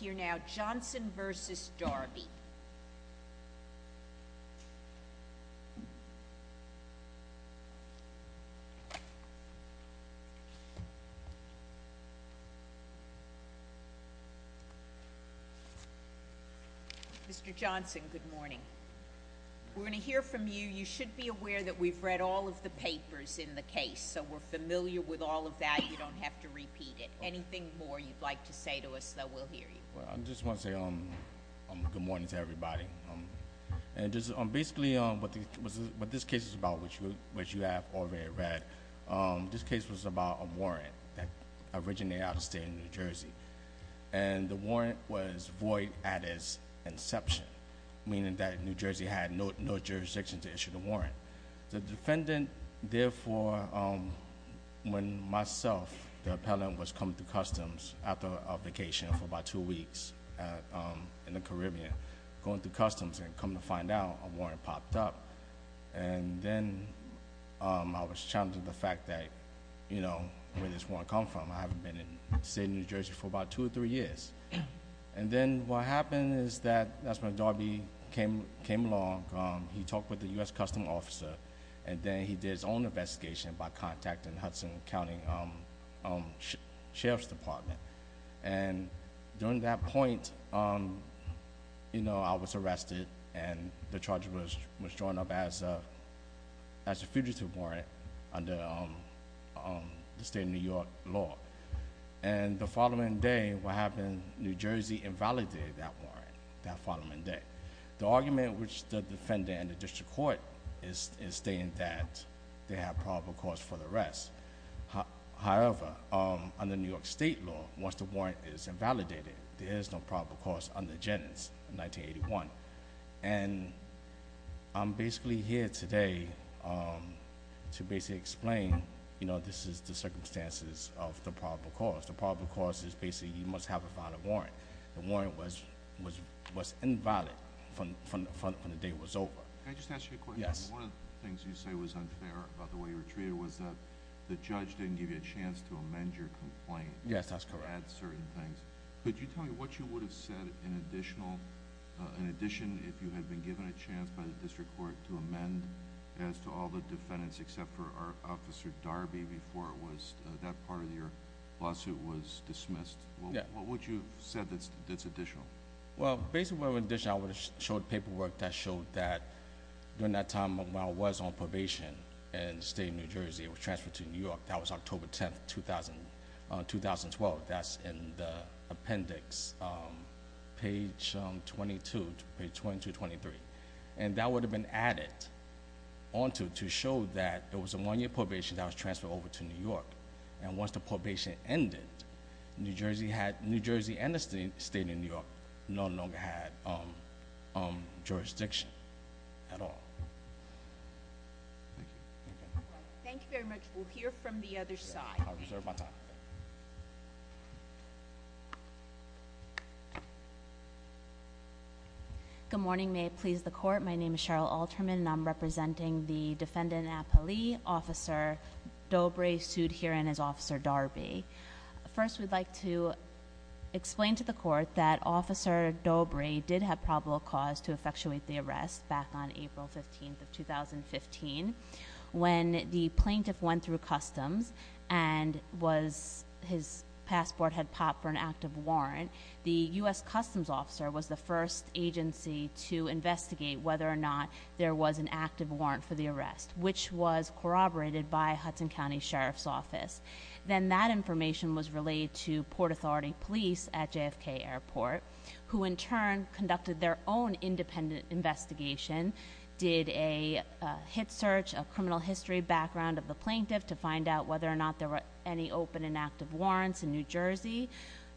We're going to hear from you. You should be aware that we've read all of the papers in the case, so we're familiar with all of that. You don't have to repeat it. Anything more you'd like to say to us, we'll hear you. I just want to say good morning to everybody. Basically what this case is about, which you have already read, this case was about a warrant that originated out of the state of New Jersey. The warrant was void at its inception, meaning that New Jersey had no jurisdiction to issue the warrant. The defendant, therefore, when myself, the appellant, was coming to Customs after a vacation for about two weeks in the Caribbean, going through Customs and coming to find out, a warrant popped up. Then I was challenged at the fact that where this warrant come from. I haven't been in the state of New Jersey for about two or three years. Then what happened is that that's when Darby came along. He talked with the U.S. Customs officer, and then he did his own investigation by contacting Hudson County Sheriff's Department. During that point, I was arrested, and the charge was drawn up as a fugitive warrant under the New York law. The following day, what happened, New Jersey invalidated that warrant, that following day. The argument which the defendant and the district court is stating that they have probable cause for the arrest. However, under New York state law, once the warrant is invalidated, there is no probable cause under Jennings in 1981. I'm basically here today to basically explain, this is the circumstances of the probable cause. The probable cause is basically you must have a valid warrant. The warrant was invalid from the day it was over. Can I just ask you a question? Yes. One of the things you say was unfair about the way you were treated was that the judge didn't give you a chance to amend your complaint. Yes, that's correct. To add certain things. Could you tell me what you would have said in addition if you had been given a chance by the district court to amend as to all the defendants except for Officer Darby before that part of your lawsuit was dismissed? What would you have said that's additional? Well, basically what would have been additional, I would have showed paperwork that showed that during that time when I was on probation in the state of New Jersey, I was transferred to New York. That was October 10, 2012. That's in the appendix, page 22 to 23. That would have been added onto to show that it was a one-year probation that I was transferred over to New York. Once the probation ended, New Jersey and the state of New York no longer had jurisdiction at all. Thank you very much. We'll hear from the other side. Good morning. May it please the court, my name is Cheryl Alterman and I'm representing the defendant, Apali, Officer Dobre sued herein as Officer Darby. First, we'd like to explain to the court that Officer Dobre did have probable cause to effectuate the arrest back on April 15, 2015. When the plaintiff went through customs and his passport had popped for an active warrant, the U.S. Customs Officer was the first agency to investigate whether or not there was an active warrant for the arrest, which was corroborated by Hudson County Sheriff's Office. Then that information was relayed to Port Authority Police at JFK Airport, who in turn conducted their own independent investigation, did a hit search, a criminal history background of the plaintiff to find out whether or not there were any open and active warrants in New Jersey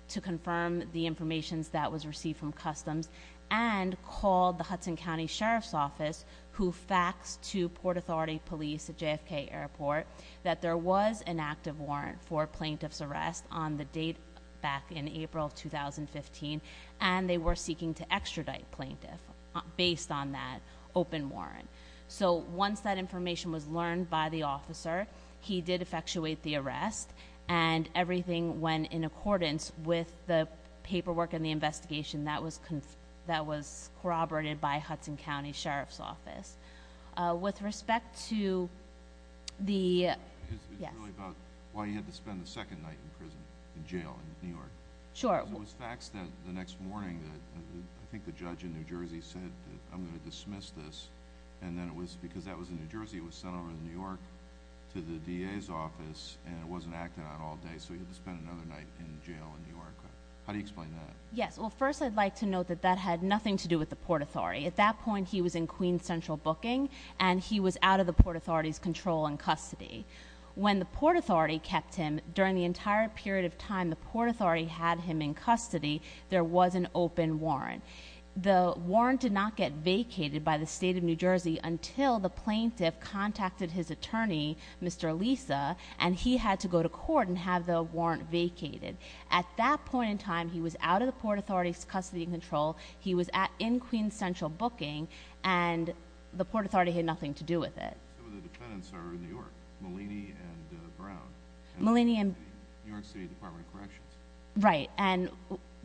to confirm the information that was received from customs and called the Hudson County Sheriff's Office, who faxed to Port Authority Police at JFK Airport that there was an active warrant for plaintiff's arrest on the date back in April 2015 and they were seeking to extradite plaintiff based on that open warrant. So once that information was learned by the officer, he did effectuate the arrest and everything went in accordance with the paperwork and the investigation that was corroborated by Hudson County Sheriff's It's really about why you had to spend the second night in prison, in jail, in New York. Sure. So it was faxed the next morning that I think the judge in New Jersey said, I'm going to dismiss this, and then it was because that was in New Jersey, it was sent over to New York to the DA's office and it wasn't acted on all day, so you had to spend another night in jail in New York. How do you explain that? Yes, well first I'd like to note that that had nothing to do with the Port Authority. At that point he was in Queen Central booking and he was out of the Port Authority's control and custody. When the Port Authority kept him, during the entire period of time the Port Authority had him in custody, there was an open warrant. The warrant did not get vacated by the state of New Jersey until the plaintiff contacted his attorney, Mr. Lisa, and he had to go to court and have the warrant vacated. At that point in time he was out of the Port Authority's custody and control, he was in Queen Central booking, and the Port Authority had nothing to do with it. Some of the defendants are in New York, Malini and Brown. Malini and... New York City Department of Corrections. Right, and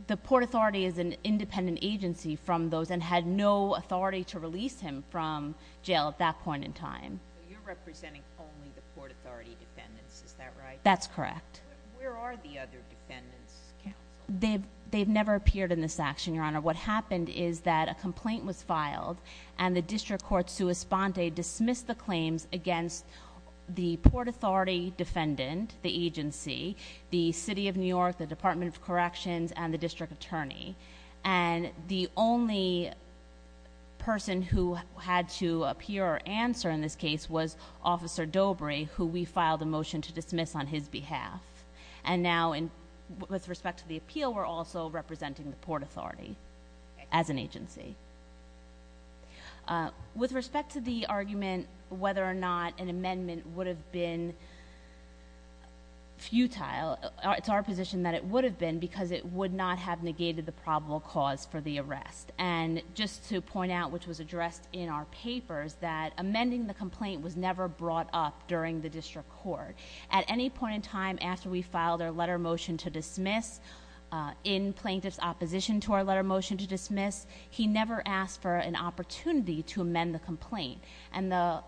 the Port Authority is an independent agency from those and had no authority to release him from jail at that point in time. So you're representing only the Port Authority defendants, is that right? That's correct. Where are the other defendants counseled? They've never appeared in this action, Your Honor. What happened is that a complaint was filed and the District Court Suis Ponte dismissed the claims against the Port Authority defendant, the agency, the City of New York, the Department of Corrections, and the District Attorney. And the only person who had to appear or answer in this case was Officer Dobre, who we filed a motion to dismiss on his behalf. And now with respect to the appeal we're also representing the Port Authority as an agency. With respect to the argument whether or not an amendment would have been futile, it's our position that it would have been because it would not have negated the probable cause for the arrest. And just to point out, which was addressed in our papers, that amending the complaint was never brought up during the District Court. At any point in time after we filed our letter of motion to dismiss, in plaintiff's opposition to our letter of motion to dismiss, he never asked for an opportunity to amend the complaint. And the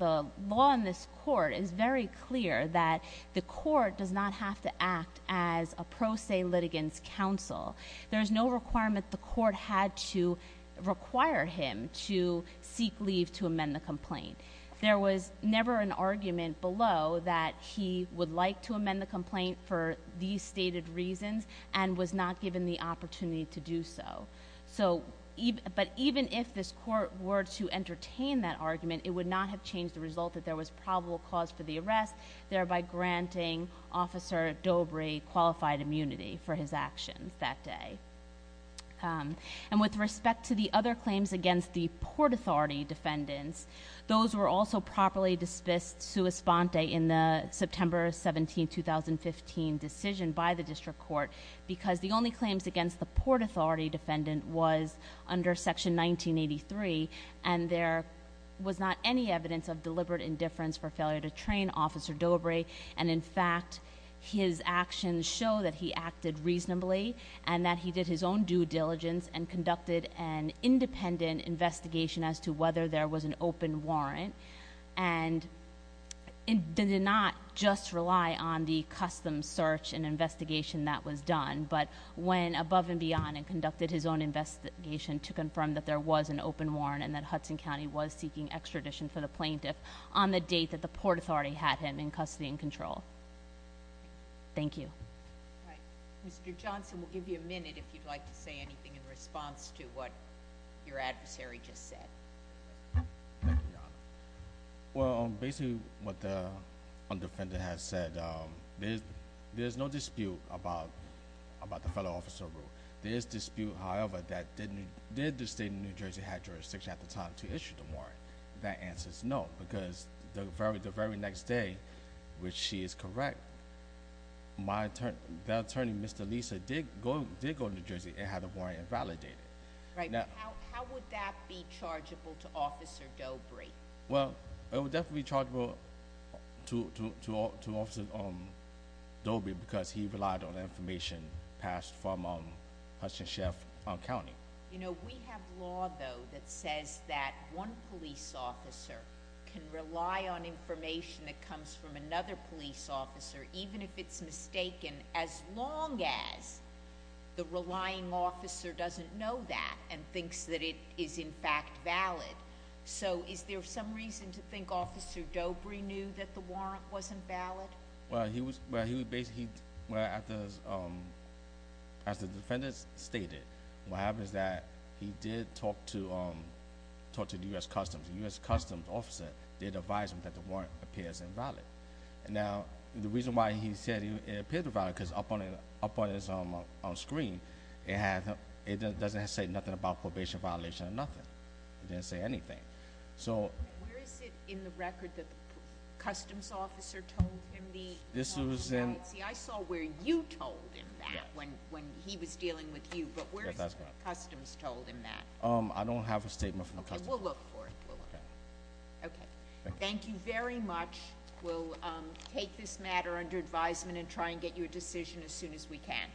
law in this court is very clear that the court does not have to act as a pro se litigant's counsel. There's no requirement the court had to require him to seek leave to amend the complaint. There was never an argument below that he would like to amend the complaint for these stated reasons and was not given the opportunity to do so. But even if this court were to entertain that argument, it would not have changed the result that there was probable cause for the arrest, thereby granting Officer Dobre qualified immunity for his actions that day. And with respect to the other claims against the Port Authority defendants, those were also properly dismissed sua sponte in the September 17, 2015 decision by the District Court, because the only claims against the Port Authority defendant was under Section 1983, and there was not any evidence of deliberate indifference for failure to train Officer Dobre. And in fact, his actions show that he acted reasonably and that he did his own due diligence and conducted an independent investigation as to whether there was an open warrant and did not just rely on the custom search and investigation that was done, but went above and beyond and conducted his own investigation to confirm that there was an open warrant and that Hudson County was seeking extradition for the plaintiff on the date that the Port Authority was in control. Thank you. All right. Mr. Johnson, we'll give you a minute if you'd like to say anything in response to what your adversary just said. Thank you, Your Honor. Well, basically what the defendant has said, there's no dispute about the fellow officer rule. There is dispute, however, that did the State of New Jersey have jurisdiction at the time to issue the warrant? That answer is no, because the very next day, which she is correct, that attorney, Mr. Lisa, did go to New Jersey and had the warrant invalidated. Right, but how would that be chargeable to Officer Dobre? Well, it would definitely be chargeable to Officer Dobre because he relied on information passed from Hudson County. You know, we have law, though, that says that one police officer can rely on information that comes from another police officer, even if it's mistaken, as long as the relying officer doesn't know that and thinks that it is, in fact, valid. So is there some reason to think Officer Dobre knew that the warrant wasn't valid? Well, as the defendant stated, what happens is that he did talk to the U.S. Customs. The U.S. Customs officer did advise him that the warrant appears invalid. Now, the reason why he said it appeared invalid, because up on his screen, it doesn't say nothing about probation violation or nothing. It didn't say anything. Where is it in the record that the Customs officer told him the... This was in... See, I saw where you told him that when he was dealing with you. But where is it that Customs told him that? I don't have a statement from Customs. Okay, we'll look for it. Okay, thank you very much. We'll take this matter under advisement and try and get you a decision as soon as we can.